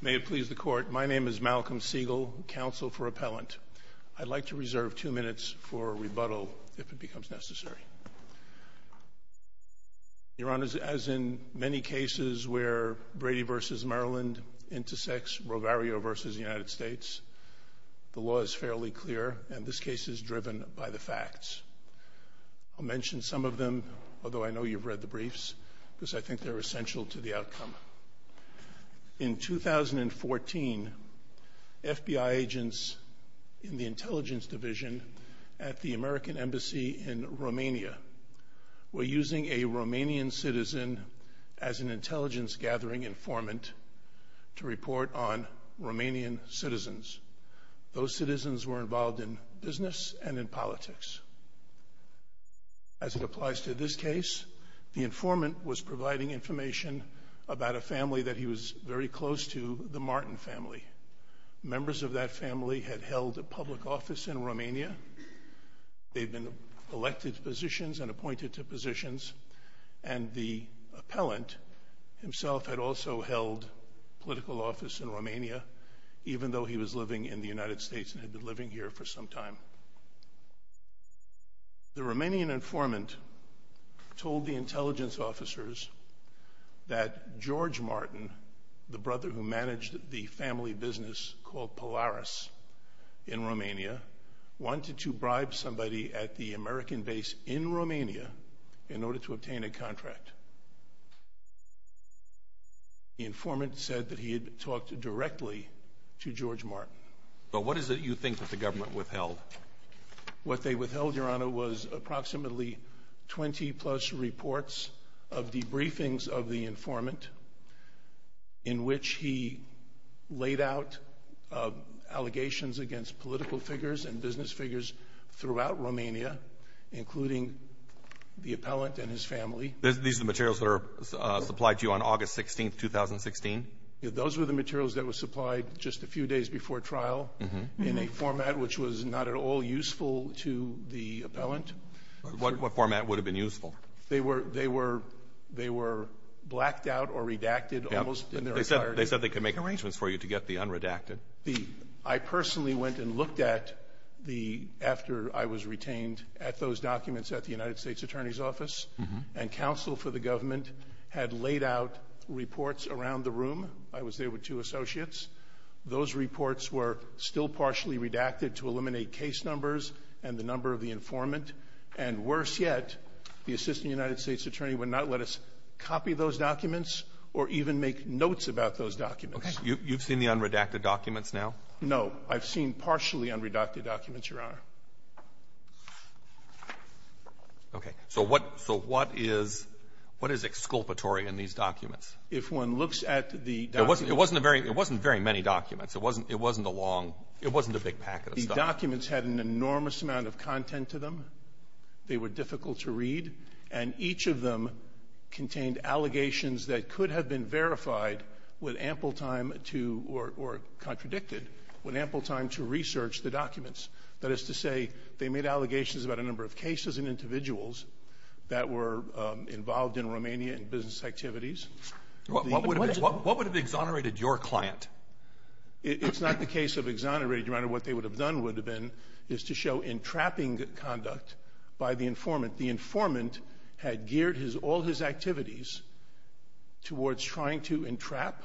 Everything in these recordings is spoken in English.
May it please the Court, my name is Malcolm Siegel, counsel for Appellant. I'd like to reserve two minutes for rebuttal if it becomes necessary. Your Honor, as in many cases where Brady v. Maryland intersects Rovario v. United States, the law is fairly clear and this case is driven by the facts. I'll mention some of them, although I know you've read the briefs, because I In 2014, FBI agents in the Intelligence Division at the American Embassy in Romania were using a Romanian citizen as an intelligence-gathering informant to report on Romanian citizens. Those citizens were involved in business and in politics. As it applies to this case, the informant was providing information about a family that he was very close to, the Martin family. Members of that family had held a public office in Romania. They'd been elected to positions and appointed to positions, and the appellant himself had also held political office in Romania, even though he was living in the United States and had been living here for some time. The Romanian informant told the that George Martin, the brother who managed the family business called Polaris in Romania, wanted to bribe somebody at the American base in Romania in order to obtain a contract. The informant said that he had talked directly to George Martin. But what is it you think that the government withheld? What they withheld, Your Honor, was approximately 20-plus reports of debriefings of the informant in which he laid out allegations against political figures and business figures throughout Romania, including the appellant and his family. These are the materials that were supplied to you on August 16, 2016? Those were the materials that were supplied just a few days before trial in a format which was not at all useful to the appellant. What format would have been useful? They were they were they were blacked out or redacted almost in their entirety. They said they could make arrangements for you to get the unredacted. The – I personally went and looked at the – after I was retained at those documents at the United States Attorney's Office, and counsel for the government had laid out reports around the room. I was there with two associates. Those reports were still partially redacted to eliminate case numbers and the number of the informant. And worse yet, the Assistant United States Attorney would not let us copy those documents or even make notes about those documents. Okay. You've seen the unredacted documents now? No. I've seen partially unredacted documents, Your Honor. Okay. So what – so what is – what is exculpatory in these documents? If one looks at the documents – It wasn't a very – it wasn't very many documents. It wasn't – it wasn't a long – it wasn't a big packet of stuff. The documents had an enormous amount of content to them. They were difficult to read. And each of them contained allegations that could have been verified with ample time to – or contradicted with ample time to research the documents. That is to say, they made allegations about a number of cases and individuals that were involved in Romania in business activities. What would have exonerated your client? It's not the case of exonerating, Your Honor. What they would have done would have been is to show entrapping conduct by the informant. The informant had geared his – all his activities towards trying to entrap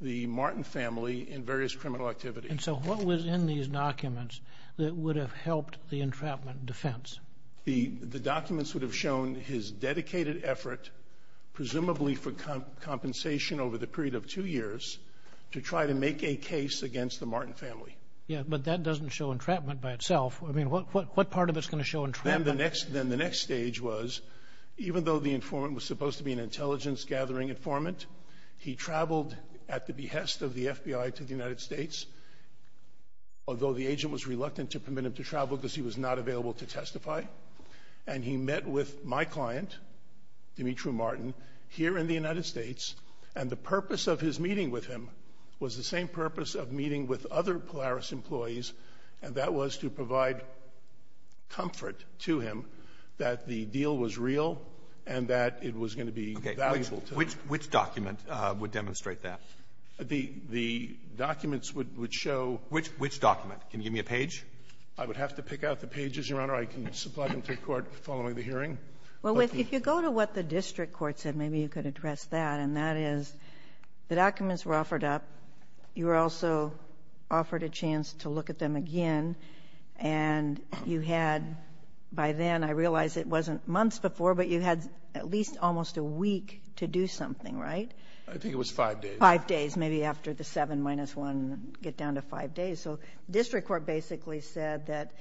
the Martin family in various criminal activities. And so what was in these documents that would have helped the entrapment defense? The documents would have shown his dedicated effort, presumably for compensation over the period of two years, to try to make a case against the Martin family. Yeah, but that doesn't show entrapment by itself. I mean, what part of it's going to show entrapment? Then the next stage was, even though the informant was supposed to be an intelligence-gathering informant, he traveled at the behest of the FBI to the United States, although the agent was reluctant to permit him to travel because he was not available to testify. And he met with my client, Dimitri Martin, here in the United States. And the purpose of his meeting with him was the same purpose of meeting with other Polaris employees, and that was to provide comfort to him that the deal was real and that it was going to be valuable to him. Okay. Which document would demonstrate that? The documents would show – Which document? Can you give me a page? I would have to pick out the pages, Your Honor. I can supply them to the Court following the hearing. Well, if you go to what the district court said, maybe you could address that, and that is the documents were offered up. You were also offered a chance to look at them again. And you had, by then, I realize it wasn't months before, but you had at least almost a week to do something, right? I think it was five days. Five days, maybe after the 7-1, get down to five days. So district court basically said that,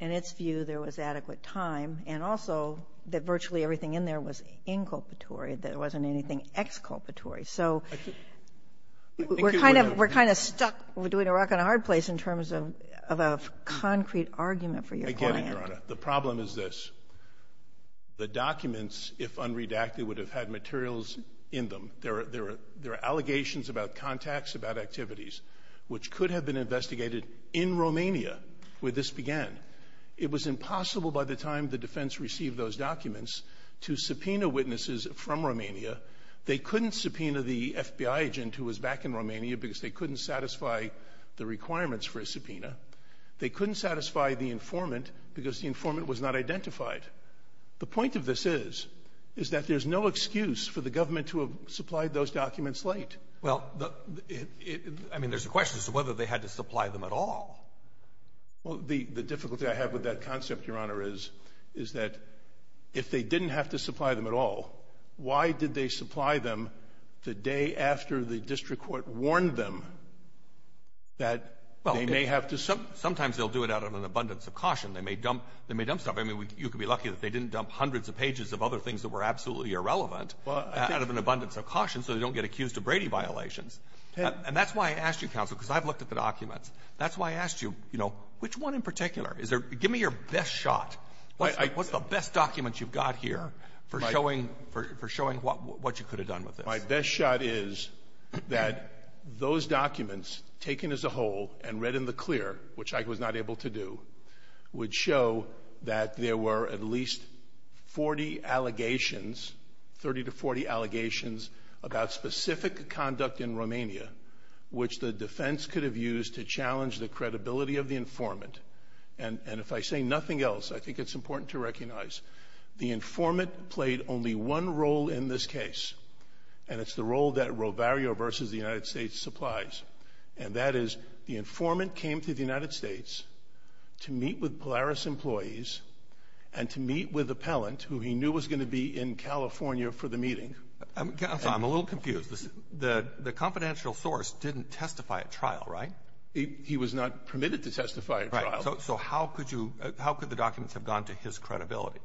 in its view, there was adequate time. And also that virtually everything in there was inculpatory, that it wasn't anything exculpatory. So we're kind of – we're kind of stuck. We're doing a rock-and-a-hard place in terms of a concrete argument for your client. I get it, Your Honor. The problem is this. The documents, if unredacted, would have had materials in them. There are allegations about contacts, about activities, which could have been investigated in Romania where this began. It was impossible by the time the defense received those documents to subpoena witnesses from Romania. They couldn't subpoena the FBI agent who was back in Romania because they couldn't satisfy the requirements for a subpoena. They couldn't satisfy the informant because the informant was not identified. The point of this is, is that there's no excuse for the government to have supplied those documents late. Well, I mean, there's a question as to whether they had to supply them at all. Well, the difficulty I have with that concept, Your Honor, is, is that if they didn't have to supply them at all, why did they supply them the day after the district court warned them that they may have to — Well, sometimes they'll do it out of an abundance of caution. They may dump stuff. I mean, you could be lucky that they didn't dump hundreds of pages of other things that were absolutely irrelevant out of an abundance of caution so they don't get accused of Brady violations. And that's why I asked you, counsel, because I've looked at the documents. That's why I asked you, you know, which one in particular is there — give me your best shot. What's the best document you've got here for showing — for showing what you could have done with this? My best shot is that those documents, taken as a whole and read in the clear, which I was not able to do, would show that there were at least 40 allegations that — 30 to 40 allegations about specific conduct in Romania, which the defense could have used to challenge the credibility of the informant. And if I say nothing else, I think it's important to recognize the informant played only one role in this case, and it's the role that Rovario v. the United States supplies. And that is, the informant came to the United States to meet with Polaris employees and to meet with Appellant, who he knew was going to be in California for the meeting. Counsel, I'm a little confused. The — the confidential source didn't testify at trial, right? He was not permitted to testify at trial. Right. So how could you — how could the documents have gone to his credibility?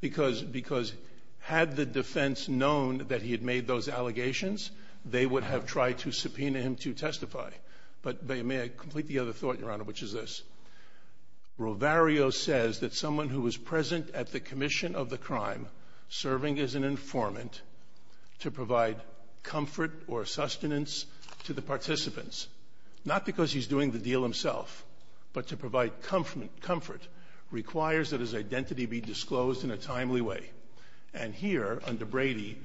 Because — because had the defense known that he had made those allegations, they would have tried to subpoena him to testify. But may I complete the other thought, Your Honor, which is this. Rovario says that someone who is present at the commission of the crime, serving as an informant, to provide comfort or sustenance to the participants — not because he's doing the deal himself, but to provide comfort — requires that his identity be disclosed in a timely way. And here, under Brady,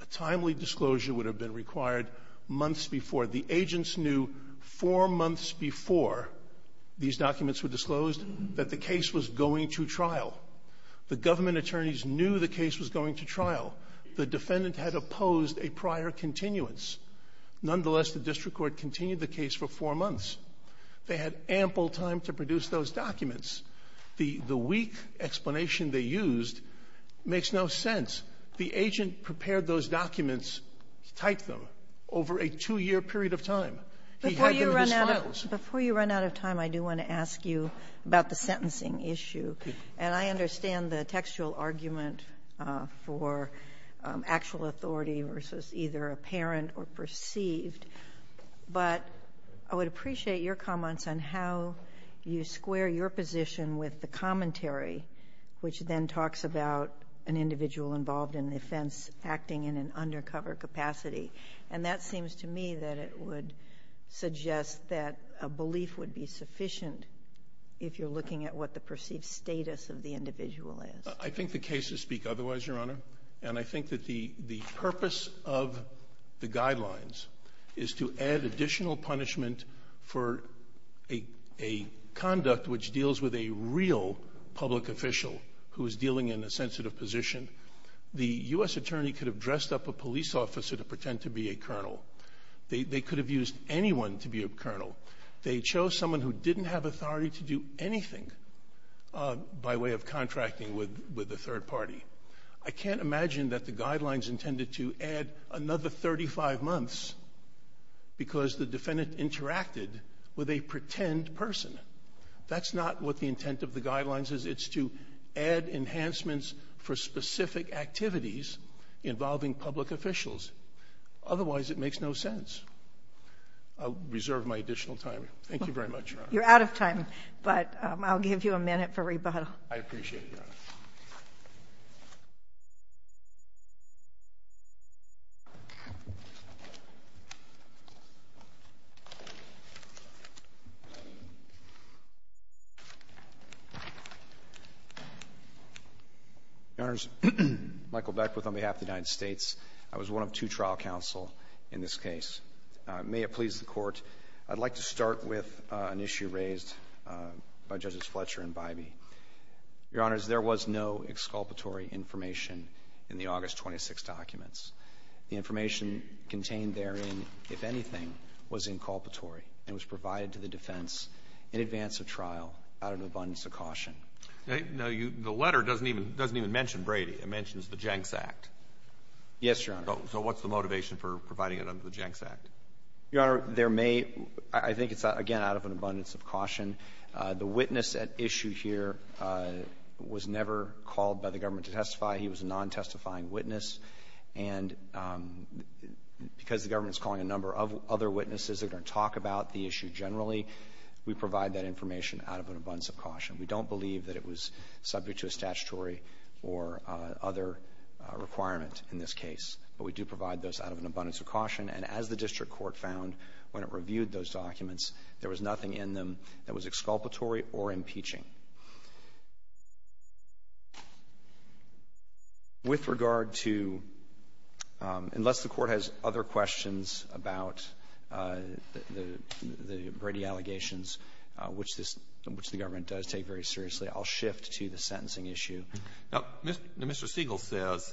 a timely disclosure would have been required months before. The agents knew four months before these documents were disclosed that the case was going to trial. The government attorneys knew the case was going to trial. The defendant had opposed a prior continuance. Nonetheless, the district court continued the case for four months. They had ample time to produce those documents. The — the weak explanation they used makes no sense. The agent prepared those documents, typed them, over a two-year period of time. He had them in his files. Before you run out of time, I do want to ask you about the sentencing issue. And I understand the textual argument for actual authority versus either apparent or perceived. But I would appreciate your comments on how you square your position with the commentary, which then talks about an individual involved in an offense acting in an undercover capacity. And that seems to me that it would suggest that a belief would be sufficient if you're looking at what the perceived status of the individual is. I think the cases speak otherwise, Your Honor. And I think that the — the purpose of the guidelines is to add additional punishment for a — a conduct which deals with a real public official who is dealing in a sensitive position. The U.S. attorney could have dressed up a police officer to pretend to be a colonel. They — they could have used anyone to be a colonel. They chose someone who didn't have authority to do anything by way of contracting with — with a third party. I can't imagine that the guidelines intended to add another 35 months because the defendant interacted with a pretend person. That's not what the intent of the guidelines is. It's to add enhancements for specific activities involving public officials. Otherwise, it makes no sense. I'll reserve my additional time. Thank you very much, Your Honor. You're out of time, but I'll give you a minute for rebuttal. I appreciate it, Your Honor. Your Honors, Michael Beckwith on behalf of the United States. I was one of two trial counsel in this case. May it please the Court, I'd like to start with an issue raised by Judges Fletcher and Bybee. Your Honors, there was no exculpatory information in the August 26th documents. The information contained therein, if anything, was inculpatory and was provided to the defense in advance of trial out of an abundance of caution. Now, you — the letter doesn't even — doesn't even mention Brady. It mentions the Jenks Act. Yes, Your Honor. So what's the motivation for providing it under the Jenks Act? Your Honor, there may — I think it's, again, out of an abundance of caution. The witness at issue here was never called by the government to testify. He was a non-testifying witness. And because the government is calling a number of other witnesses that are going to talk about the issue generally, we provide that information out of an abundance of caution. We don't believe that it was subject to a statutory or other requirement in this case, but we do provide those out of an abundance of caution. And as the district court found when it reviewed those documents, there was nothing in them that was exculpatory or impeaching. With regard to — unless the Court has other questions about the Brady allegations, which this — which the government does take very seriously, I'll shift to the sentencing issue. Now, Mr. Siegel says,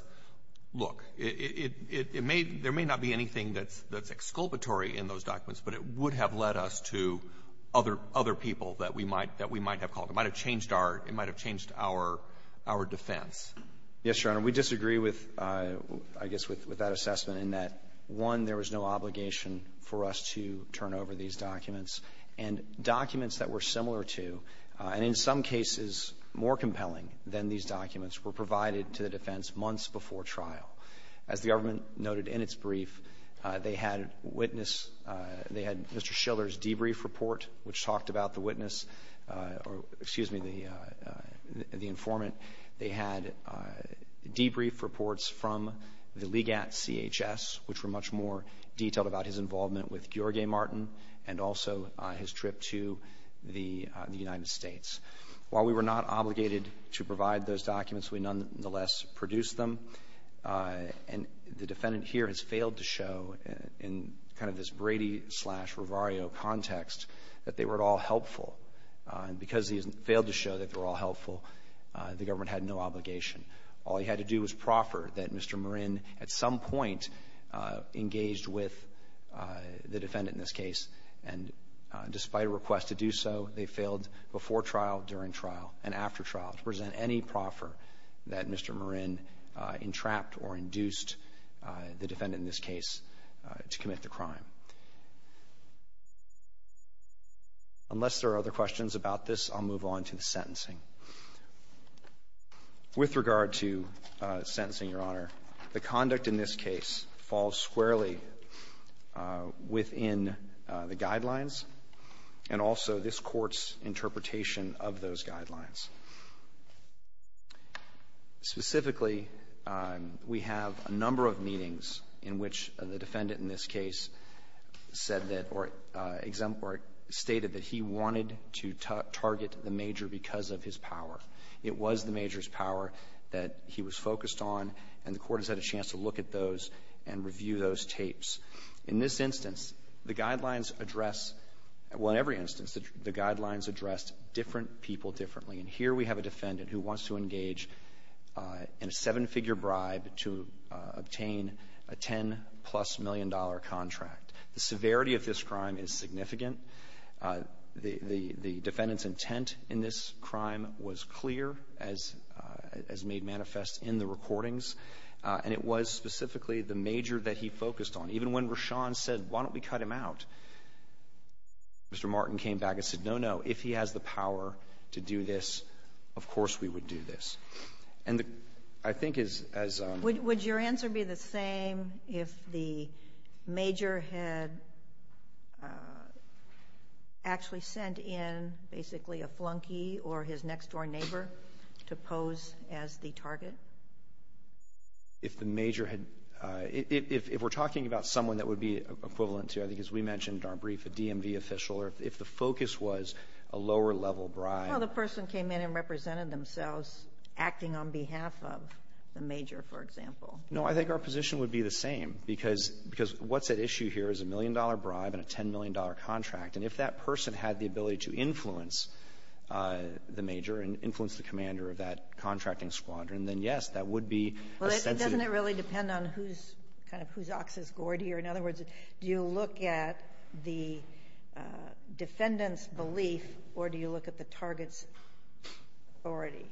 look, it — it may — there may not be anything that's — that's other — other people that we might — that we might have called. It might have changed our — it might have changed our — our defense. Yes, Your Honor. We disagree with — I guess with — with that assessment in that, one, there was no obligation for us to turn over these documents. And documents that were similar to, and in some cases more compelling than these documents, were provided to the defense months before trial. As the government noted in its brief, they had witness — they had Mr. Schiller's debrief report, which talked about the witness — or, excuse me, the — the informant. They had debrief reports from the Ligat CHS, which were much more detailed about his involvement with Gheorghe Martin and also his trip to the — the United States. While we were not obligated to provide those documents, we nonetheless produced them. And the defendant here has failed to show, in kind of this Brady-slash-Rivario context, that they were at all helpful. And because he failed to show that they were all helpful, the government had no obligation. All he had to do was proffer that Mr. Marin, at some point, engaged with the defendant in this case. And despite a request to do so, they failed before trial, during trial, and after trial to present any proffer that Mr. Marin entrapped or induced the defendant, in this case, to commit the crime. Unless there are other questions about this, I'll move on to the sentencing. With regard to sentencing, Your Honor, the conduct in this case falls squarely within the guidelines and also this Court's interpretation of those guidelines. Specifically, we have a number of meetings in which the defendant in this case said that or exempt or stated that he wanted to target the major because of his power. It was the major's power that he was focused on, and the Court has had a chance to look at those and review those tapes. In this instance, the guidelines address Well, in every instance, the guidelines addressed different people differently. And here we have a defendant who wants to engage in a seven-figure bribe to obtain a $10-plus million contract. The severity of this crime is significant. The defendant's intent in this crime was clear, as made manifest in the recordings, and it was specifically the major that he focused on. Even when Rashan said, why don't we cut him out, Mr. Martin came back and said, no, no, if he has the power to do this, of course we would do this. And I think as Would your answer be the same if the major had actually sent in basically a flunky or his next-door neighbor to pose as the target? If the major had If we're talking about someone that would be equivalent to, I think as we mentioned in our brief, a DMV official, or if the focus was a lower-level bribe Well, the person came in and represented themselves acting on behalf of the major, for example. No, I think our position would be the same, because what's at issue here is a million-dollar bribe and a $10 million contract. And if that person had the ability to influence the major and influence the commander of that contracting squadron, then, yes, that would be a sensitive Well, doesn't it really depend on who's kind of whose ox's gourd here? In other words, do you look at the defendant's belief, or do you look at the target's authority?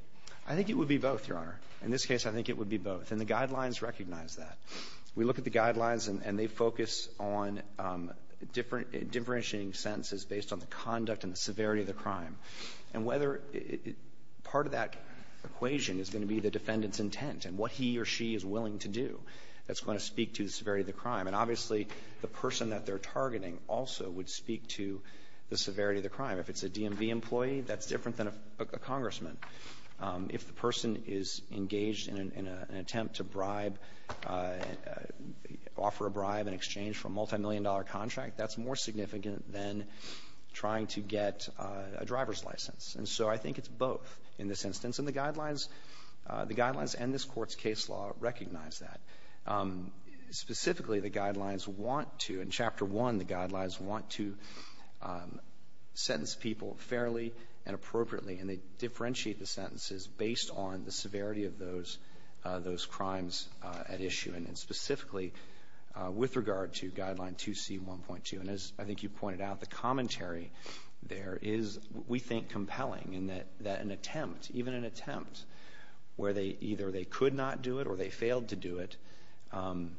I think it would be both, Your Honor. In this case, I think it would be both. And the Guidelines recognize that. We look at the Guidelines, and they focus on differentiating sentences based on the conduct and the severity of the crime. And whether part of that equation is going to be the defendant's intent and what he or she is willing to do, that's going to speak to the severity of the crime. And obviously, the person that they're targeting also would speak to the severity of the crime. If it's a DMV employee, that's different than a congressman. If the person is engaged in an attempt to bribe and offer a bribe in exchange for a multimillion-dollar contract, that's more significant than trying to get a driver's license. And so I think it's both in this instance. And the Guidelines, the Guidelines and this Court's case law recognize that. Specifically, the Guidelines want to, in Chapter 1, the Guidelines want to sentence people fairly and appropriately, and they differentiate the sentences based on the at issue. And specifically, with regard to Guideline 2C.1.2, and as I think you pointed out, the commentary there is, we think, compelling, in that an attempt, even an attempt where they either they could not do it or they failed to do it, an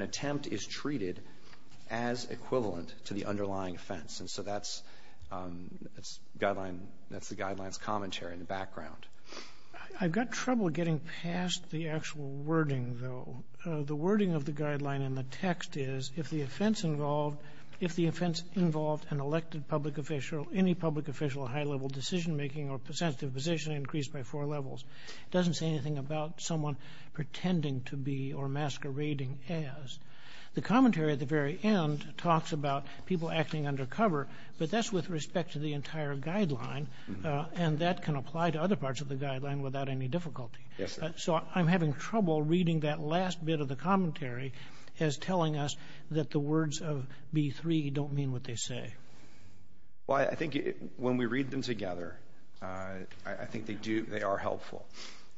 attempt is treated as equivalent to the underlying offense. And so that's Guideline, that's the Guidelines' commentary in the background. I've got trouble getting past the actual wording, though. The wording of the Guideline in the text is, if the offense involved, if the offense involved an elected public official, any public official of high-level decision-making or sensitive position increased by four levels. It doesn't say anything about someone pretending to be or masquerading as. The commentary at the very end talks about people acting undercover, but that's with respect to the entire Guideline, and that can apply to other parts of the Guideline without any difficulty. Yes, sir. So I'm having trouble reading that last bit of the commentary as telling us that the words of B3 don't mean what they say. Well, I think when we read them together, I think they do, they are helpful.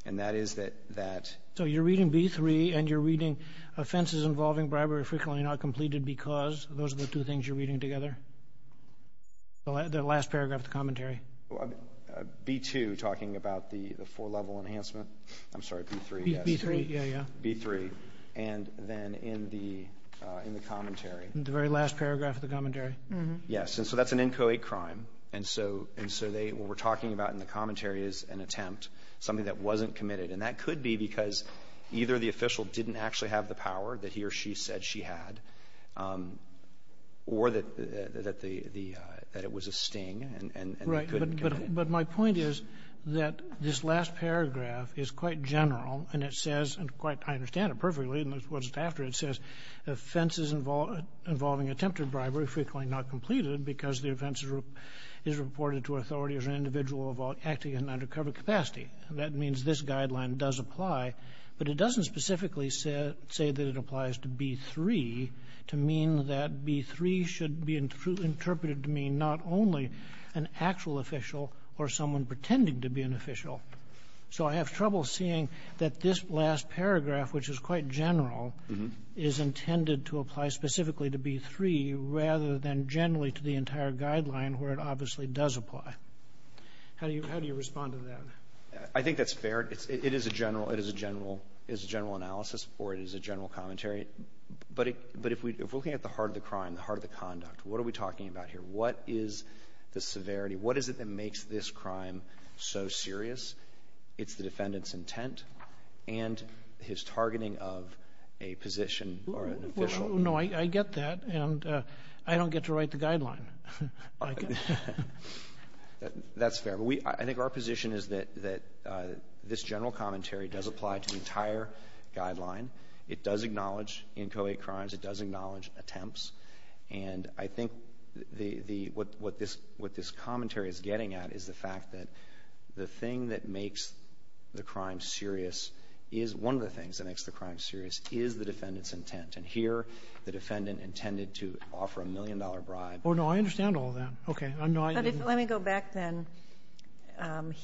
And that is that that. So you're reading B3 and you're reading offenses involving bribery frequently not completed because those are the two things you're reading together? The last paragraph of the commentary? B2 talking about the four-level enhancement. I'm sorry, B3, yes. B3, yeah, yeah. B3. And then in the commentary. The very last paragraph of the commentary. Yes, and so that's an inchoate crime. And so what we're talking about in the commentary is an attempt, something that wasn't committed. And that could be because either the official didn't actually have the power that he or she said she had, or that the the that it was a sting, and they couldn't commit it. Right. But my point is that this last paragraph is quite general, and it says, and quite, I understand it perfectly, and this wasn't after, it says, offenses involving attempted bribery frequently not completed because the offense is reported to authority as an individual acting in an undercover capacity. That means this guideline does apply. But it doesn't specifically say that it applies to B3 to mean that B3 should be interpreted to mean not only an actual official or someone pretending to be an official. So I have trouble seeing that this last paragraph, which is quite general, is intended to apply specifically to B3 rather than generally to the entire guideline, where it obviously does apply. How do you respond to that? I think that's fair. It is a general analysis, or it is a general commentary. But if we're looking at the heart of the crime, the heart of the conduct, what are we talking about here? What is the severity? What is it that makes this crime so serious? It's the defendant's intent and his targeting of a position or an official. Well, no, I get that. And I don't get to write the guideline. I get that. That's fair. But we – I think our position is that this general commentary does apply to the entire guideline. It does acknowledge inchoate crimes. It does acknowledge attempts. And I think the – what this commentary is getting at is the fact that the thing that makes the crime serious is – one of the things that makes the crime serious is the defendant's intent. And here, the defendant intended to offer a million-dollar bribe. Oh, no, I understand all that. Okay. I'm not going to go back then.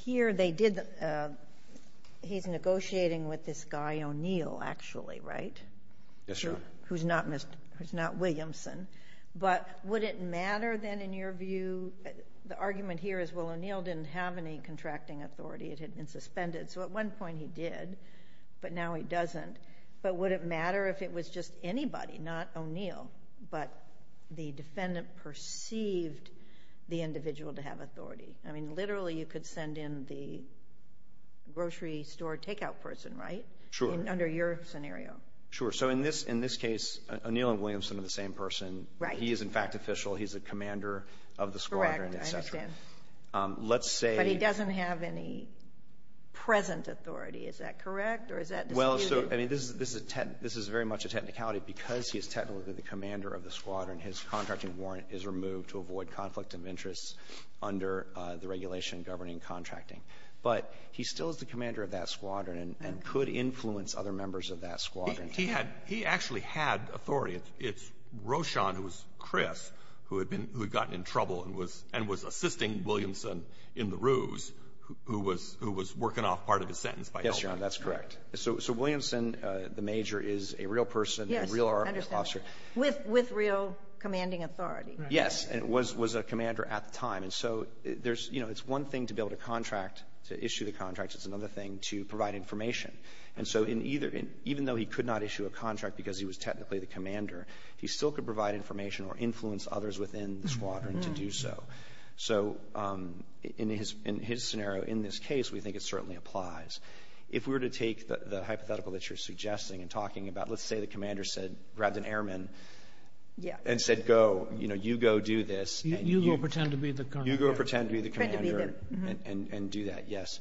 Here, they did – he's negotiating with this guy O'Neill, actually, right? Yes, Your Honor. Who's not Mr. – who's not Williamson. But would it matter, then, in your view – the argument here is, well, O'Neill didn't have any contracting authority. It had been suspended. So at one point he did, but now he doesn't. But would it matter if it was just anybody, not O'Neill, but the defendant perceived the individual to have authority? I mean, literally, you could send in the grocery store takeout person, right? Sure. Under your scenario. Sure. So in this case, O'Neill and Williamson are the same person. Right. He is, in fact, official. He's a commander of the squadron, et cetera. Correct. I understand. Let's say – But he doesn't have any present authority. Is that correct, or is that disputed? Well, so – I mean, this is a – this is very much a technicality. Because he is technically the commander of the squadron, his contracting warrant is removed to avoid conflict of interest under the regulation governing contracting. But he still is the commander of that squadron and could influence other members of that squadron. He had – he actually had authority. It's Rochon, who was Chris, who had been – who had gotten in trouble and was assisting Williamson in the ruse, who was working off part of his sentence by helping him. Yes, Your Honor, that's correct. So – so Williamson, the major, is a real person, a real army officer. Yes, I understand, with – with real commanding authority. Yes, and was – was a commander at the time. And so there's – you know, it's one thing to build a contract to issue the contract. It's another thing to provide information. And so in either – even though he could not issue a contract because he was technically the commander, he still could provide information or influence others within the squadron to do so. So in his – in his scenario, in this case, we think it certainly applies. If we were to take the hypothetical that you're suggesting and talking about, let's say the commander said – grabbed an airman and said, go, you know, you go do this. You go pretend to be the commander. You go pretend to be the commander and do that, yes.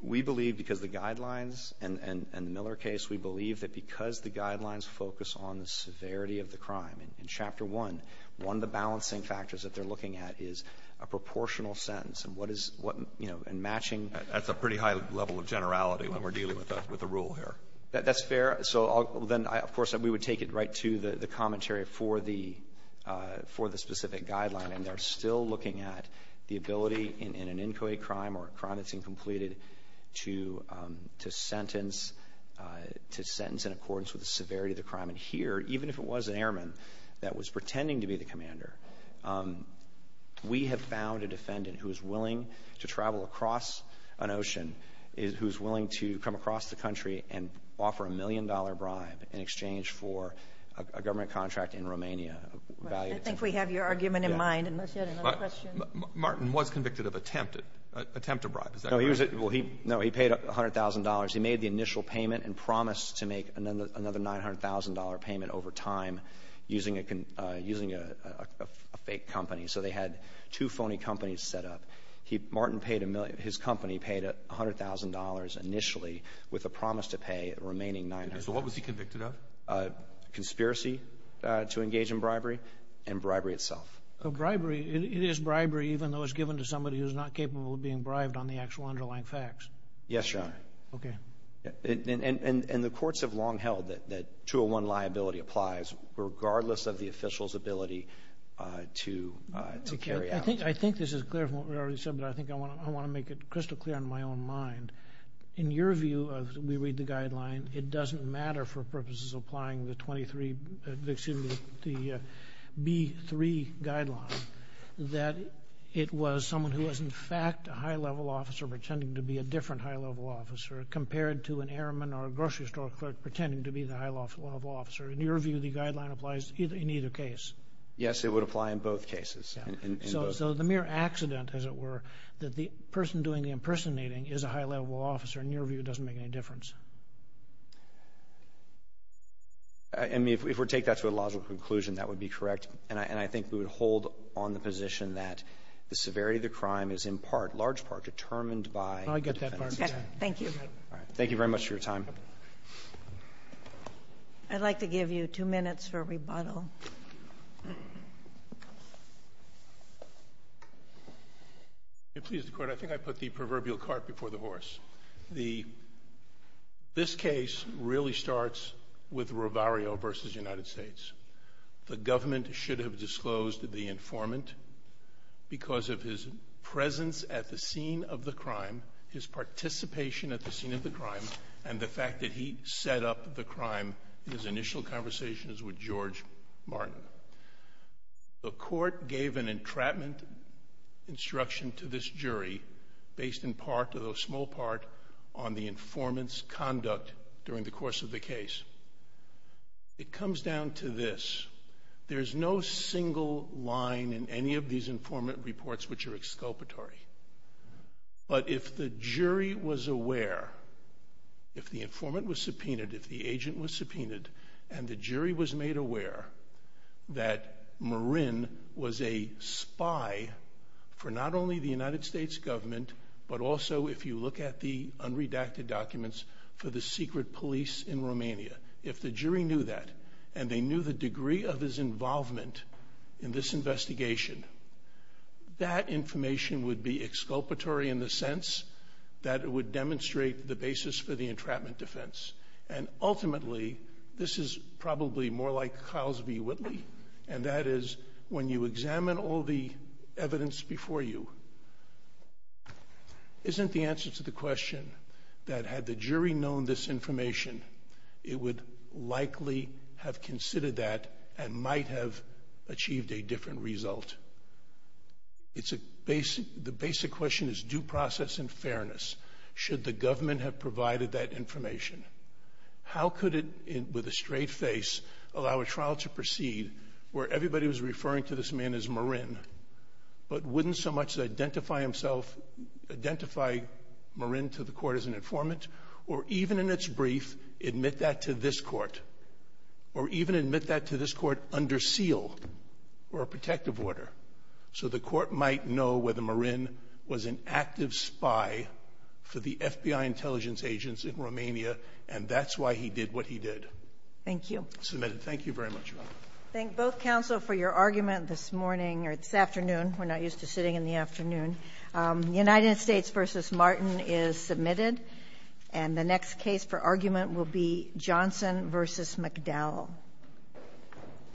We believe, because the guidelines and the Miller case, we believe that because the guidelines focus on the severity of the crime, in Chapter 1, one of the balancing factors that they're looking at is a proportional sentence. And what is – what – you know, and matching – that's a pretty high level of generality when we're dealing with the rule here. That's fair. So then, of course, we would take it right to the commentary for the – for the specific guideline. And they're still looking at the ability in an inquiry crime or a crime that's incompleted to sentence – to sentence in accordance with the severity of the crime. And here, even if it was an airman that was pretending to be the commander, we have found a defendant who's willing to travel across an ocean, who's willing to come across the country and offer a million-dollar bribe in exchange for a government contract in Romania. I think we have your argument in mind, unless you had another question. Martin was convicted of attempted – attempt to bribe. Is that correct? No, he was – well, he – no, he paid $100,000. He made the initial payment and promised to make another $900,000 payment over time using a – using a fake company. So they had two phony companies set up. He – Martin paid a – his company paid $100,000 initially with a promise to pay the remaining $900,000. So what was he convicted of? Conspiracy to engage in bribery and bribery itself. So bribery – it is bribery even though it's given to somebody who's not capable of being bribed on the actual underlying facts? Yes, Your Honor. Okay. And the courts have long held that 201 liability applies regardless of the official's ability to – to carry out. I think – I think this is clear from what we already said, but I think I want to – I want to make it crystal clear on my own mind. In your view of – we read the guideline, it doesn't matter for purposes applying the 23 – excuse me, the B3 guideline that it was someone who was in fact a high-level officer pretending to be a different high-level officer compared to an airman or a grocery store clerk pretending to be the high-level officer. In your view, the guideline applies in either case? Yes, it would apply in both cases, in both. So the mere accident, as it were, that the person doing the impersonating is a high-level officer, in your view, doesn't make any difference? I mean, if we take that to a logical conclusion, that would be correct. And I think we would hold on the position that the severity of the crime is in part, large part, determined by the defendant's intent. I get that part. Thank you. All right. Thank you very much for your time. I'd like to give you two minutes for rebuttal. If you please, Your Honor, I think I put the proverbial cart before the horse. The – this case really starts with Ravario v. United States. The government should have disclosed the informant because of his presence at the fact that he set up the crime in his initial conversations with George Martin. The court gave an entrapment instruction to this jury based in part, although small part, on the informant's conduct during the course of the case. It comes down to this. There's no single line in any of these informant reports which are exculpatory. But if the jury was aware, if the informant was subpoenaed, if the agent was subpoenaed, and the jury was made aware that Marin was a spy for not only the United States government, but also if you look at the unredacted documents for the secret police in Romania, if the jury knew that, and they knew the degree of his involvement in this investigation, that information would be exculpatory in the sense that it would demonstrate the basis for the entrapment defense. And ultimately, this is probably more like Carlsby-Whitley, and that is when you examine all the evidence before you, isn't the answer to the question that had the jury known this information, it would likely have considered that and might have achieved a different result. The basic question is due process and fairness. Should the government have provided that information? How could it, with a straight face, allow a trial to proceed where everybody was referring to this man as Marin, but wouldn't so much identify himself, identify Marin to the court as an informant, or even in its brief, admit that to this court? Or even admit that to this court under seal or a protective order, so the court might know whether Marin was an active spy for the FBI intelligence agents in Romania, and that's why he did what he did. Thank you. Submitted. Thank you very much. Thank both counsel for your argument this morning, or this afternoon. We're not used to sitting in the afternoon. The United States v. Martin is submitted, and the next case for argument will be Johnson v. McDowell.